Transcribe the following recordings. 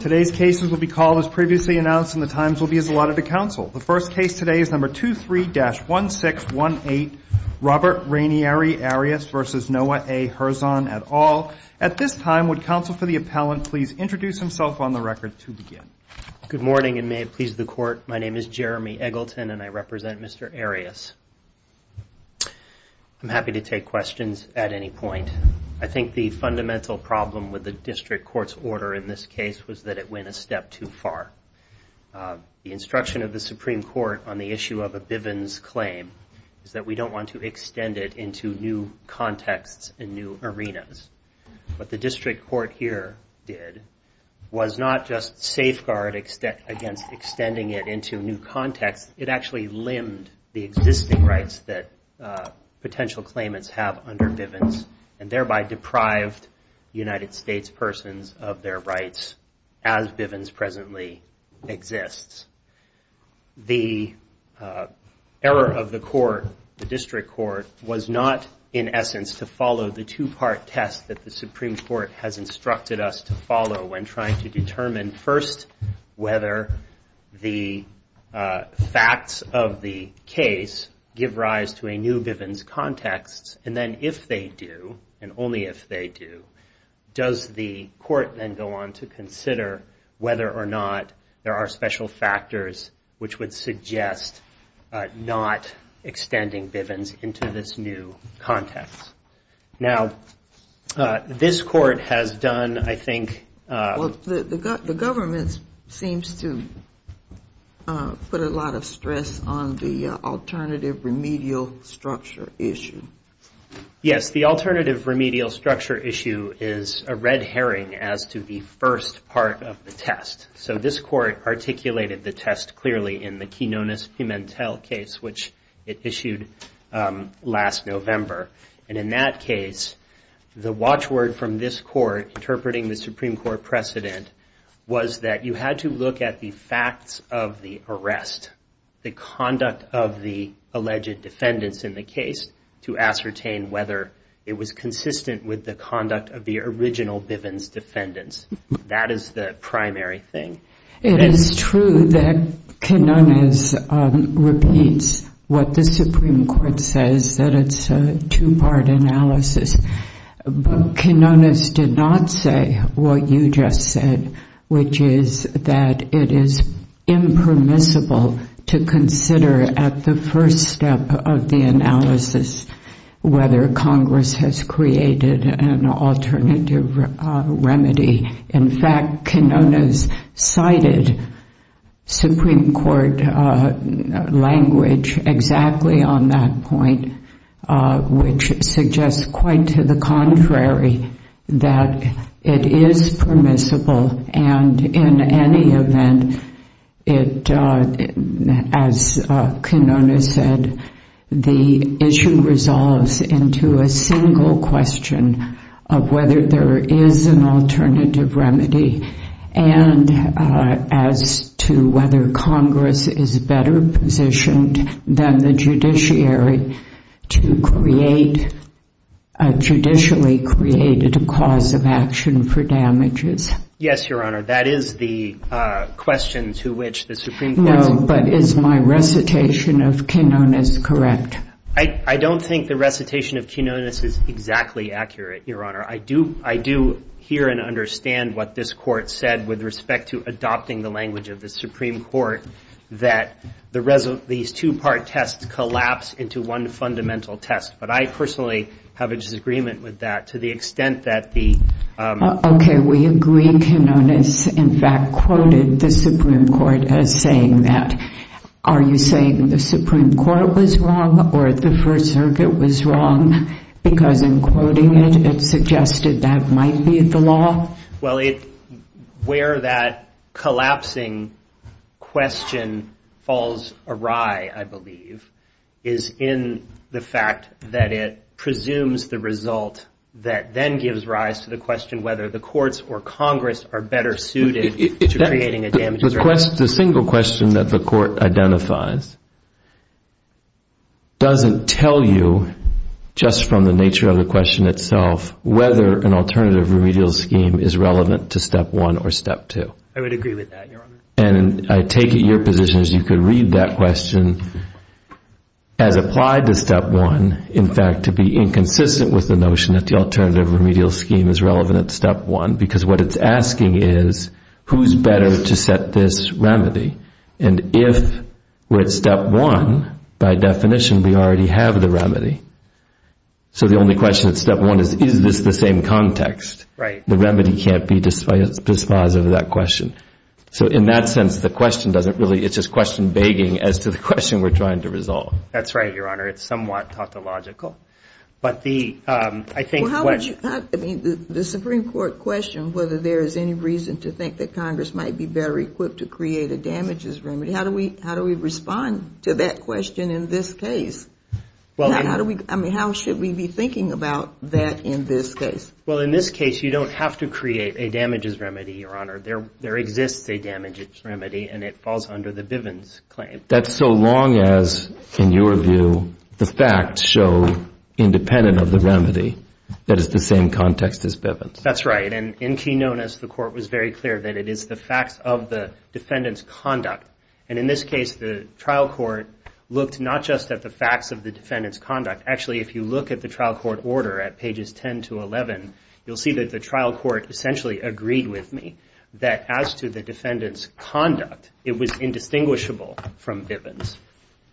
Today's cases will be called as previously announced and the times will be as allotted to counsel. The first case today is number 23-1618 Robert Rainieri Arias v. Noah A. Herzon et al. At this time, would counsel for the appellant please introduce himself on the record to begin. Good morning and may it please the court. My name is Jeremy Eggleton and I represent Mr. Arias. I'm happy to take questions at any point. I think the fundamental problem with the district court's order in this case was that it went a step too far. The instruction of the Supreme Court on the issue of a Bivens claim is that we don't want to extend it into new contexts and new arenas. What the district court here did was not just safeguard against extending it into new contexts. It actually limbed the existing rights that potential claimants have under Bivens and thereby deprived United States persons of their rights as Bivens presently exists. The error of the court, the district court, was not in essence to follow the two-part test that the Supreme Court has instructed us to follow when trying to determine first whether the facts of the case give rise to a new Bivens context. And then if they do, and only if they do, does the court then go on to consider whether or not there are special factors which would suggest not extending Bivens into this new context. Now, this court has done, I think... The government seems to put a lot of stress on the alternative remedial structure issue. Yes, the alternative remedial structure issue is a red herring as to the first part of the test. So this court articulated the test clearly in the Quinones-Pimentel case, which it issued last November. And in that case, the watchword from this court interpreting the Supreme Court precedent was that you had to look at the facts of the arrest, the conduct of the alleged defendants in the case, to ascertain whether it was consistent with the conduct of the original Bivens defendants. That is the primary thing. It is true that Quinones repeats what the Supreme Court says, that it's a two-part analysis. But Quinones did not say what you just said, which is that it is impermissible to consider at the first step of the analysis whether Congress has created an alternative remedy. In fact, Quinones cited Supreme Court language exactly on that point, which suggests quite to the contrary, that it is permissible. And in any event, as Quinones said, the issue resolves into a single question of whether there is an alternative remedy and as to whether Congress is better positioned than the judiciary to create a judicially created cause of action for damages. Yes, Your Honor. That is the question to which the Supreme Court's— No, but is my recitation of Quinones correct? I don't think the recitation of Quinones is exactly accurate, Your Honor. I do hear and understand what this Court said with respect to adopting the language of the Supreme Court, that these two-part tests collapse into one fundamental test. But I personally have a disagreement with that to the extent that the— Okay, we agree. Quinones, in fact, quoted the Supreme Court as saying that. Are you saying the Supreme Court was wrong or the First Circuit was wrong? Because in quoting it, it suggested that might be the law? Well, where that collapsing question falls awry, I believe, is in the fact that it presumes the result that then gives rise to the question whether the courts or Congress are better suited to creating a damages remedy. The single question that the Court identifies doesn't tell you, just from the nature of the question itself, whether an alternative remedial scheme is relevant to Step 1 or Step 2. I would agree with that, Your Honor. And I take it your position is you could read that question as applied to Step 1, in fact, to be inconsistent with the notion that the alternative remedial scheme is relevant at Step 1, because what it's asking is, who's better to set this remedy? And if we're at Step 1, by definition, we already have the remedy. So the only question at Step 1 is, is this the same context? Right. The remedy can't be despised of that question. So in that sense, the question doesn't really—it's just question begging as to the question we're trying to resolve. That's right, Your Honor. It's somewhat tautological. But the—I think what— I mean, the Supreme Court questioned whether there is any reason to think that Congress might be better equipped to create a damages remedy. How do we respond to that question in this case? How do we—I mean, how should we be thinking about that in this case? Well, in this case, you don't have to create a damages remedy, Your Honor. There exists a damages remedy, and it falls under the Bivens claim. That's so long as, in your view, the facts show, independent of the remedy, that it's the same context as Bivens. That's right. And in key notice, the Court was very clear that it is the facts of the defendant's conduct. And in this case, the trial court looked not just at the facts of the defendant's conduct. Actually, if you look at the trial court order at pages 10 to 11, you'll see that the trial court essentially agreed with me that as to the defendant's conduct, it was indistinguishable from Bivens.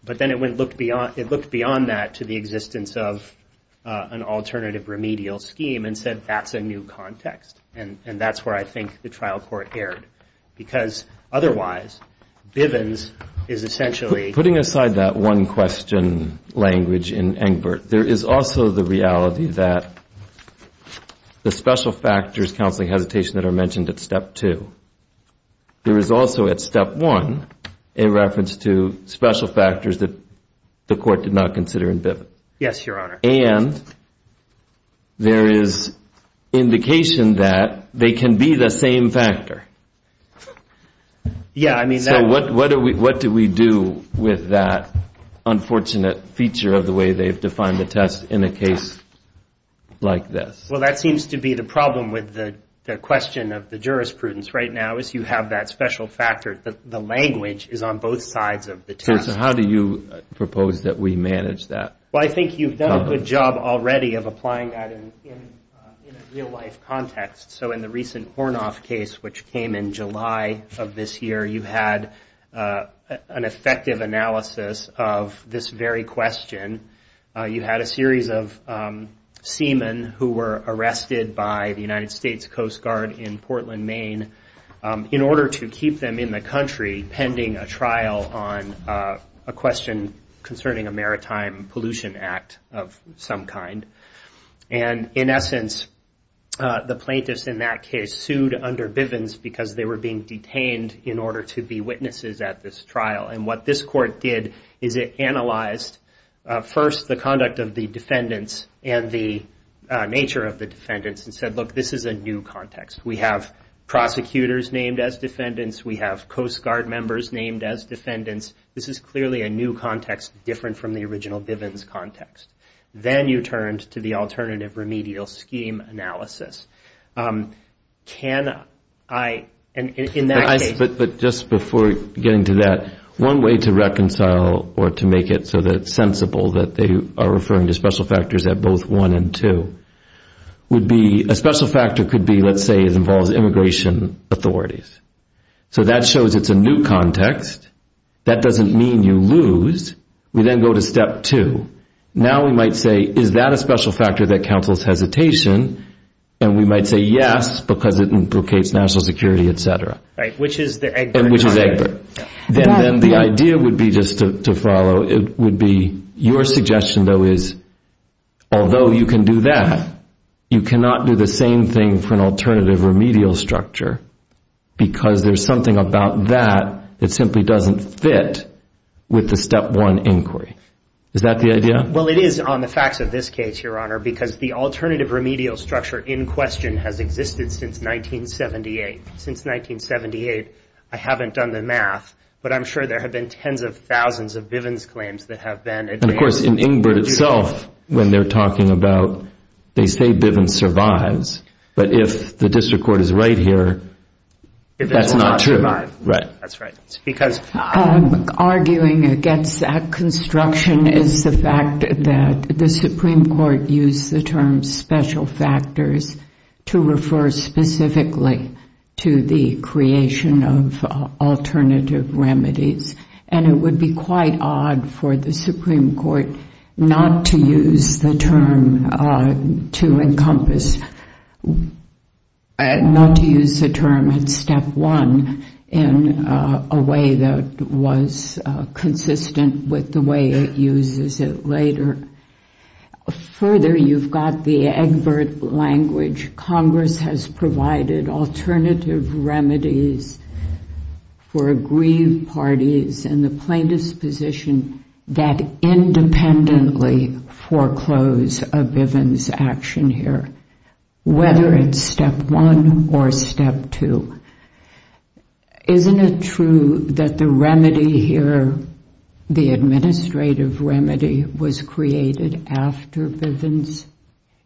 But then it looked beyond that to the existence of an alternative remedial scheme and said, that's a new context. And that's where I think the trial court erred, because otherwise, Bivens is essentially— Putting aside that one-question language in Engbert, there is also the reality that the special factors, counseling, hesitation, that are mentioned at step two. There is also, at step one, a reference to special factors that the Court did not consider in Bivens. Yes, Your Honor. And there is indication that they can be the same factor. Yeah, I mean— So what do we do with that unfortunate feature of the way they've defined the test in a case like this? Well, that seems to be the problem with the question of the jurisprudence right now is you have that special factor. The language is on both sides of the test. So how do you propose that we manage that? Well, I think you've done a good job already of applying that in a real-life context. So in the recent Hornoff case, which came in July of this year, you had an effective analysis of this very question. You had a series of seamen who were arrested by the United States Coast Guard in Portland, Maine, in order to keep them in the country pending a trial on a question concerning a Maritime Pollution Act of some kind. And in essence, the plaintiffs in that case sued under Bivens because they were being detained in order to be witnesses at this trial. And what this court did is it analyzed, first, the conduct of the defendants and the nature of the defendants, and said, look, this is a new context. We have prosecutors named as defendants. We have Coast Guard members named as defendants. This is clearly a new context different from the original Bivens context. Then you turned to the alternative remedial scheme analysis. Can I— Just before getting to that, one way to reconcile or to make it so that it's sensible that they are referring to special factors at both 1 and 2 would be a special factor could be, let's say, it involves immigration authorities. So that shows it's a new context. That doesn't mean you lose. We then go to step 2. Now we might say, is that a special factor that counsels hesitation? And we might say, yes, because it implicates national security, et cetera. And which is Egbert. Then the idea would be just to follow, it would be your suggestion, though, is although you can do that, you cannot do the same thing for an alternative remedial structure because there's something about that that simply doesn't fit with the step 1 inquiry. Is that the idea? Well, it is on the facts of this case, Your Honor, because the alternative remedial structure in question has existed since 1978. Since 1978, I haven't done the math, but I'm sure there have been tens of thousands of Bivens claims that have been— And, of course, in Egbert itself, when they're talking about—they say Bivens survives, but if the district court is right here, that's not true. Right. Arguing against that construction is the fact that the Supreme Court used the term special factors to refer specifically to the creation of alternative remedies. And it would be quite odd for the Supreme Court not to use the term to encompass— not to use the term in step 1 in a way that was consistent with the way it uses it later. Further, you've got the Egbert language. Congress has provided alternative remedies for aggrieved parties in the plaintiff's position that independently foreclose a Bivens action here. Whether it's step 1 or step 2, isn't it true that the remedy here, the administrative remedy, was created after Bivens?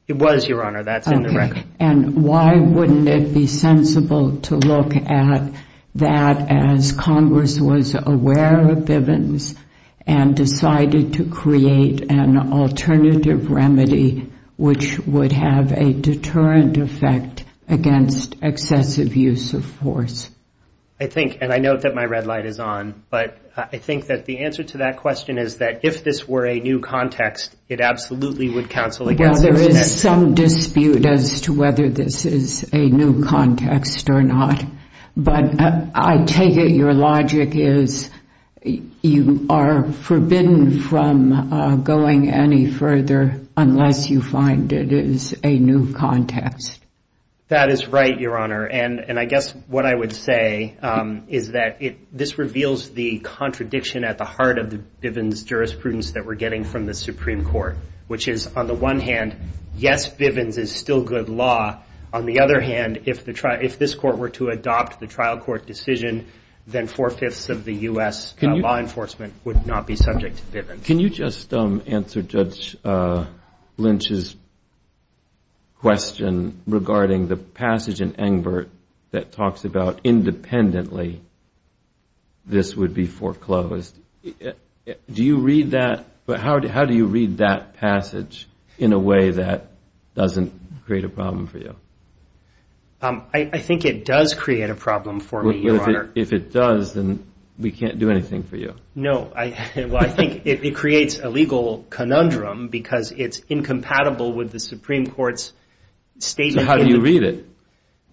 It was, Your Honor. That's in the record. Okay. And why wouldn't it be sensible to look at that as Congress was aware of Bivens and decided to create an alternative remedy, which would have a deterrent effect against excessive use of force? I think—and I note that my red light is on, but I think that the answer to that question is that if this were a new context, it absolutely would counsel against— Well, there is some dispute as to whether this is a new context or not, but I take it your logic is you are forbidden from going any further unless you find it is a new context. That is right, Your Honor. And I guess what I would say is that this reveals the contradiction at the heart of the Bivens jurisprudence that we're getting from the Supreme Court, which is, on the one hand, yes, Bivens is still good law. On the other hand, if this court were to adopt the trial court decision, then four-fifths of the U.S. law enforcement would not be subject to Bivens. Can you just answer Judge Lynch's question regarding the passage in Engbert that talks about independently this would be foreclosed? Do you read that? How do you read that passage in a way that doesn't create a problem for you? I think it does create a problem for me, Your Honor. If it does, then we can't do anything for you. No. Well, I think it creates a legal conundrum because it's incompatible with the Supreme Court's statement— So how do you read it?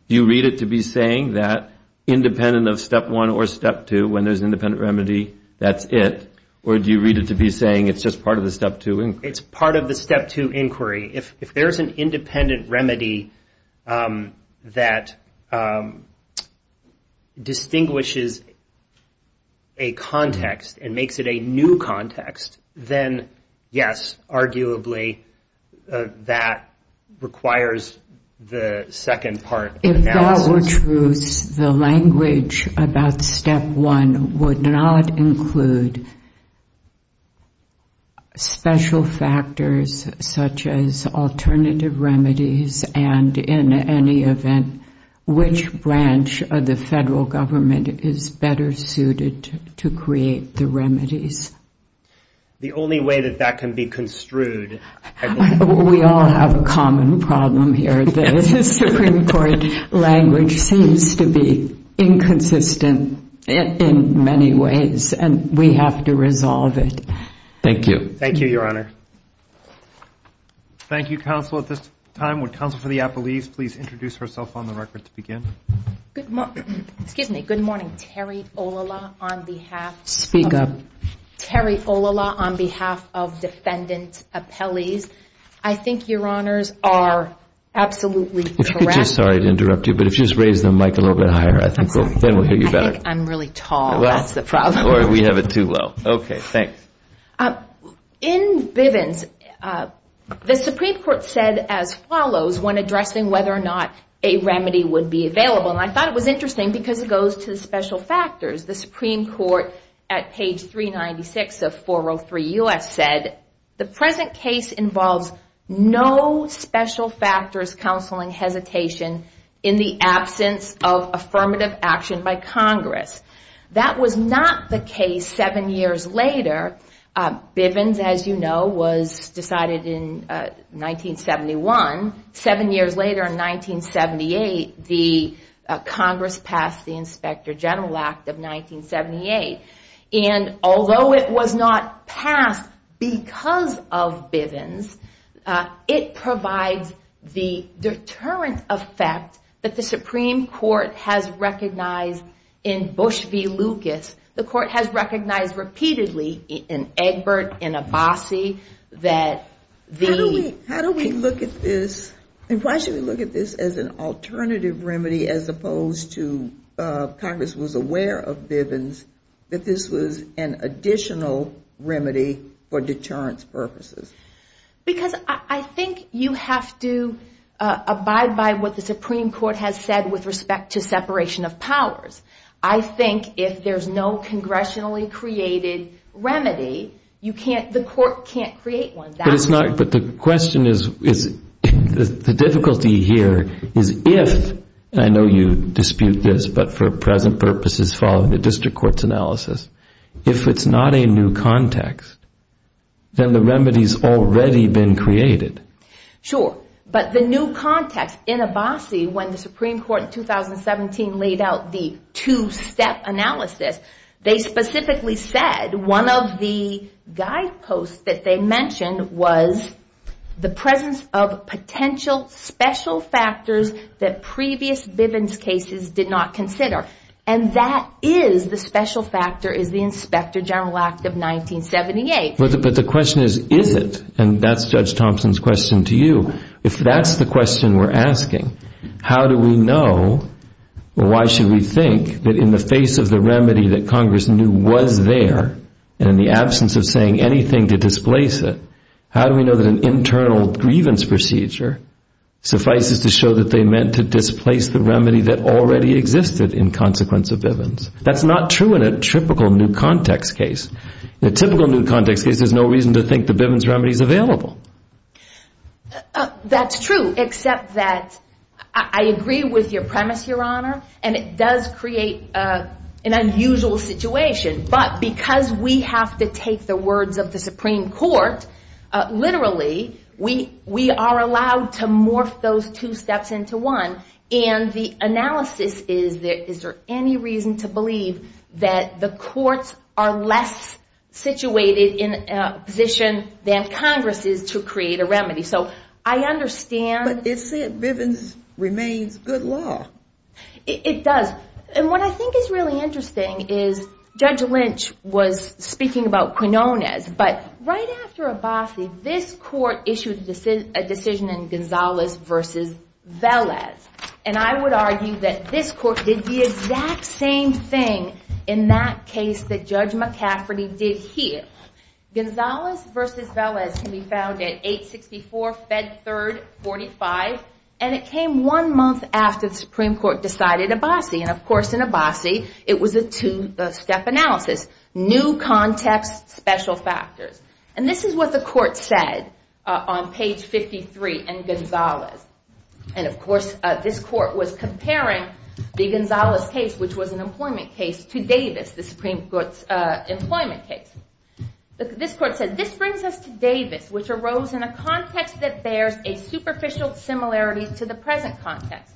Do you read it to be saying that independent of Step 1 or Step 2, when there's an independent remedy, that's it? Or do you read it to be saying it's just part of the Step 2 inquiry? It's part of the Step 2 inquiry. If there's an independent remedy that distinguishes a context and makes it a new context, then yes, arguably that requires the second part of the analysis. In all truth, the language about Step 1 would not include special factors such as alternative remedies and, in any event, which branch of the federal government is better suited to create the remedies. The only way that that can be construed— We all have a common problem here. The Supreme Court language seems to be inconsistent in many ways, and we have to resolve it. Thank you. Thank you, Your Honor. Thank you, counsel. At this time, would counsel for the appellees please introduce herself on the record to begin? Excuse me. Good morning. Terry Olala on behalf of defendant appellees. I think Your Honors are absolutely correct. Sorry to interrupt you, but if you just raise the mic a little bit higher, then we'll hear you better. I think I'm really tall. That's the problem. Or we have it too low. Okay. Thanks. In Bivens, the Supreme Court said as follows when addressing whether or not a remedy would be available, and I thought it was interesting because it goes to the special factors. The Supreme Court at page 396 of 403 U.S. said, the present case involves no special factors counseling hesitation in the absence of affirmative action by Congress. That was not the case seven years later. Bivens, as you know, was decided in 1971. Seven years later in 1978, the Congress passed the Inspector General Act of 1978. And although it was not passed because of Bivens, it provides the deterrent effect that the Supreme Court has recognized in Bush v. Lucas. The court has recognized repeatedly in Egbert, in Abbasi, that the ---- How do we look at this and why should we look at this as an alternative remedy as opposed to Congress was aware of Bivens, that this was an additional remedy for deterrence purposes? Because I think you have to abide by what the Supreme Court has said with respect to separation of powers. I think if there's no congressionally created remedy, the court can't create one. But the question is, the difficulty here is if, and I know you dispute this, but for present purposes following the district court's analysis, if it's not a new context, then the remedy's already been created. Sure, but the new context in Abbasi when the Supreme Court in 2017 laid out the two-step analysis, they specifically said one of the guideposts that they mentioned was the presence of potential special factors that previous Bivens cases did not consider. And that is the special factor is the Inspector General Act of 1978. But the question is, is it? And that's Judge Thompson's question to you. If that's the question we're asking, how do we know or why should we think that in the face of the remedy that Congress knew was there and in the absence of saying anything to displace it, how do we know that an internal grievance procedure suffices to show that they meant to displace the remedy that already existed in consequence of Bivens? That's not true in a typical new context case. In a typical new context case, there's no reason to think the Bivens remedy's available. That's true, except that I agree with your premise, Your Honor, and it does create an unusual situation. But because we have to take the words of the Supreme Court literally, we are allowed to morph those two steps into one. And the analysis is, is there any reason to believe that the courts are less situated in a position than Congress is to create a remedy? So I understand... But it said Bivens remains good law. It does. And what I think is really interesting is Judge Lynch was speaking about Quinonez, but right after Abbasi, this court issued a decision in Gonzalez v. Velez, and I would argue that this court did the exact same thing in that case that Judge McCafferty did here. Gonzalez v. Velez can be found at 864 Fed 3rd 45, and it came one month after the Supreme Court decided Abbasi, and of course in Abbasi, it was a two-step analysis. New context, special factors. And this is what the court said on page 53 in Gonzalez. And of course, this court was comparing the Gonzalez case, which was an employment case, to Davis, the Supreme Court's employment case. This court said, This brings us to Davis, which arose in a context that bears a superficial similarity to the present context.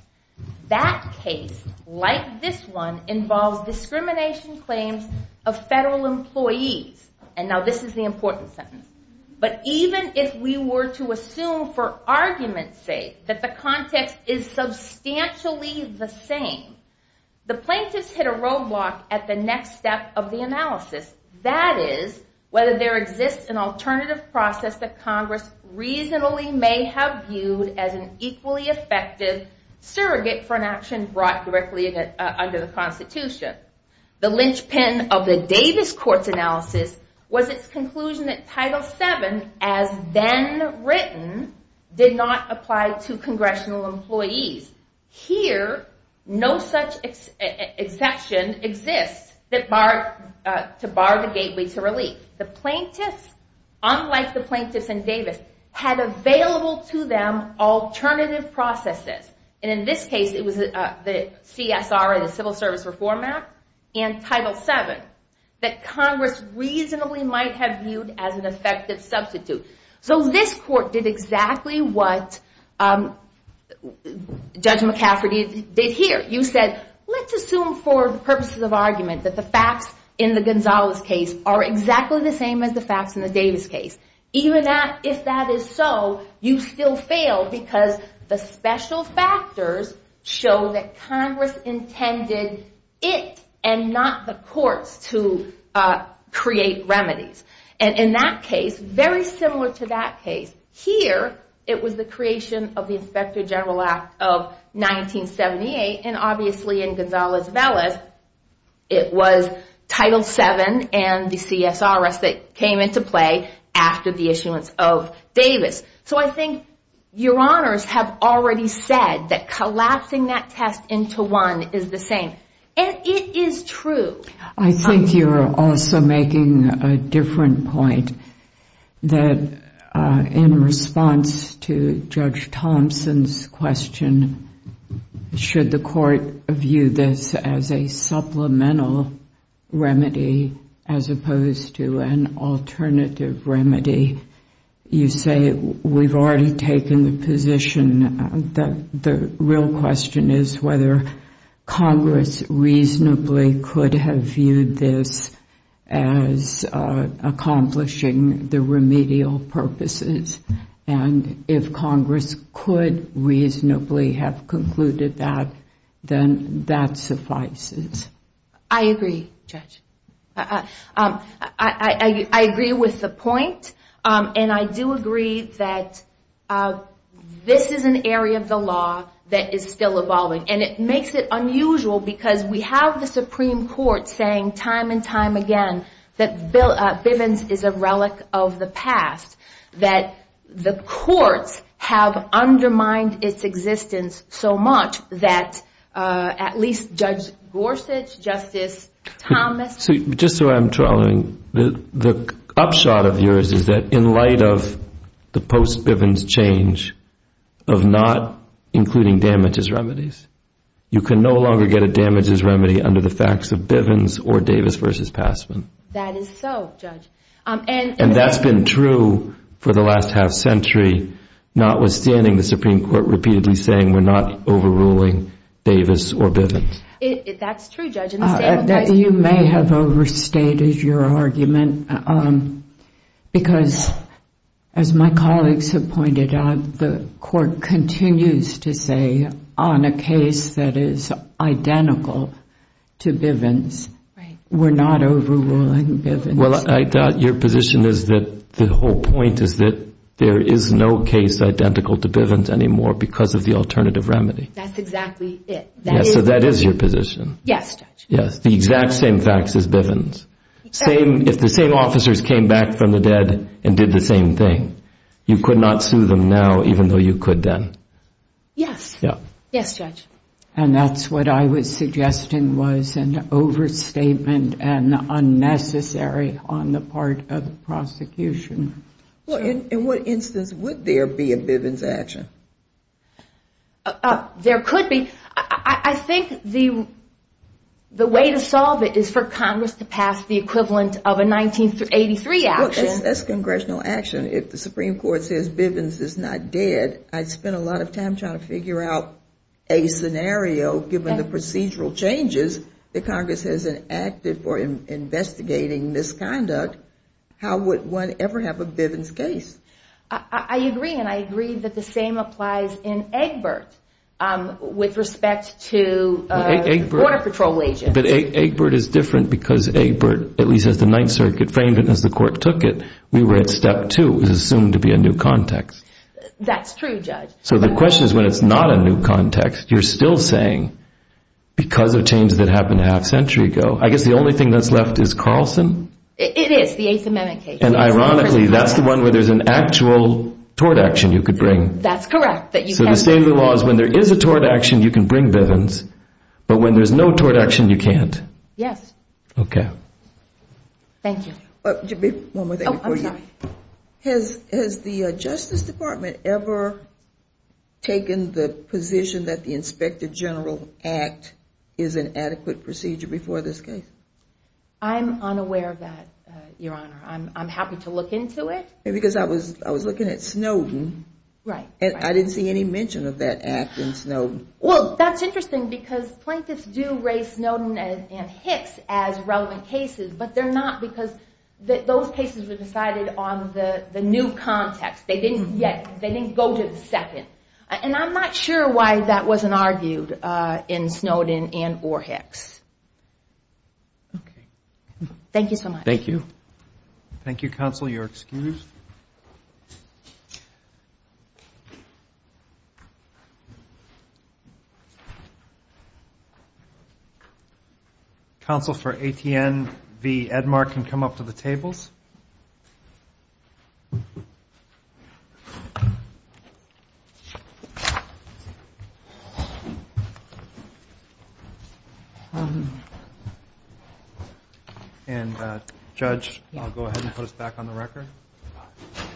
That case, like this one, involves discrimination claims of federal employees. And now this is the important sentence. But even if we were to assume for argument's sake that the context is substantially the same, the plaintiffs hit a roadblock at the next step of the analysis. That is, whether there exists an alternative process that Congress reasonably may have viewed as an equally effective surrogate for an action brought directly under the Constitution. The linchpin of the Davis court's analysis was its conclusion that Title VII, as then written, did not apply to congressional employees. Here, no such exception exists to bar the gateway to relief. The plaintiffs, unlike the plaintiffs in Davis, had available to them alternative processes. And in this case, it was the CSR, the Civil Service Reform Act, and Title VII, that Congress reasonably might have viewed as an effective substitute. So this court did exactly what Judge McCafferty did here. You said, let's assume for the purposes of argument that the facts in the Gonzalez case are exactly the same as the facts in the Davis case. Even if that is so, you still fail because the special factors show that Congress intended it and not the courts to create remedies. And in that case, very similar to that case, here, it was the creation of the Inspector General Act of 1978, and obviously in Gonzalez-Velas, it was Title VII and the CSRS that came into play after the issuance of Davis. So I think your honors have already said that collapsing that test into one is the same. And it is true. I think you're also making a different point, that in response to Judge Thompson's question, should the court view this as a supplemental remedy as opposed to an alternative remedy, you say we've already taken the position that the real question is whether Congress reasonably could have viewed this as accomplishing the remedial purposes. And if Congress could reasonably have concluded that, then that suffices. I agree, Judge. I agree with the point, and I do agree that this is an area of the law that is still evolving. And it makes it unusual, because we have the Supreme Court saying time and time again that Bivens is a relic of the past, that the courts have undermined its existence so much that at least Judge Gorsuch, Justice Thomas... Just so I'm trailing, the upshot of yours is that in light of the post-Bivens change of not including damage as remedies, you can no longer get a damage as remedy under the facts of Bivens or Davis v. Passman. That is so, Judge. And that's been true for the last half century, notwithstanding the Supreme Court repeatedly saying we're not overruling Davis or Bivens. That's true, Judge. You may have overstated your argument, because as my colleagues have pointed out, the court continues to say on a case that is identical to Bivens, we're not overruling Bivens. Well, I doubt your position is that the whole point is that there is no case identical to Bivens anymore because of the alternative remedy. That's exactly it. So that is your position. Yes, Judge. The exact same facts as Bivens. If the same officers came back from the dead and did the same thing, you could not sue them now even though you could then. Yes. Yes, Judge. And that's what I was suggesting was an overstatement and unnecessary on the part of the prosecution. In what instance would there be a Bivens action? There could be. I think the way to solve it is for Congress to pass the equivalent of a 1983 action. That's congressional action. If the Supreme Court says Bivens is not dead, I'd spend a lot of time trying to figure out a scenario, given the procedural changes that Congress has enacted for investigating misconduct. How would one ever have a Bivens case? I agree, and I agree that the same applies in Egbert with respect to Border Patrol agents. But Egbert is different because Egbert, at least as the Ninth Circuit framed it and as the court took it, we were at step two. It was assumed to be a new context. That's true, Judge. So the question is when it's not a new context, you're still saying because of changes that happened a half century ago. I guess the only thing that's left is Carlson. It is, the Eighth Amendment case. And ironically, that's the one where there's an actual tort action you could bring. That's correct. So the state of the law is when there is a tort action, you can bring Bivens, but when there's no tort action, you can't. Yes. Okay. Thank you. One more thing before you. Has the Justice Department ever taken the position that the Inspector General Act is an adequate procedure before this case? I'm unaware of that, Your Honor. I'm happy to look into it. Because I was looking at Snowden. Right. And I didn't see any mention of that act in Snowden. Well, that's interesting because plaintiffs do raise Snowden and Hicks as relevant cases, but they're not because those cases were decided on the new context. They didn't go to the second. And I'm not sure why that wasn't argued in Snowden and or Hicks. Okay. Thank you so much. Thank you. Thank you, Counsel. You're excused. Counsel for ATN v. Edmar can come up to the tables. And, Judge, I'll go ahead and put us back on the record.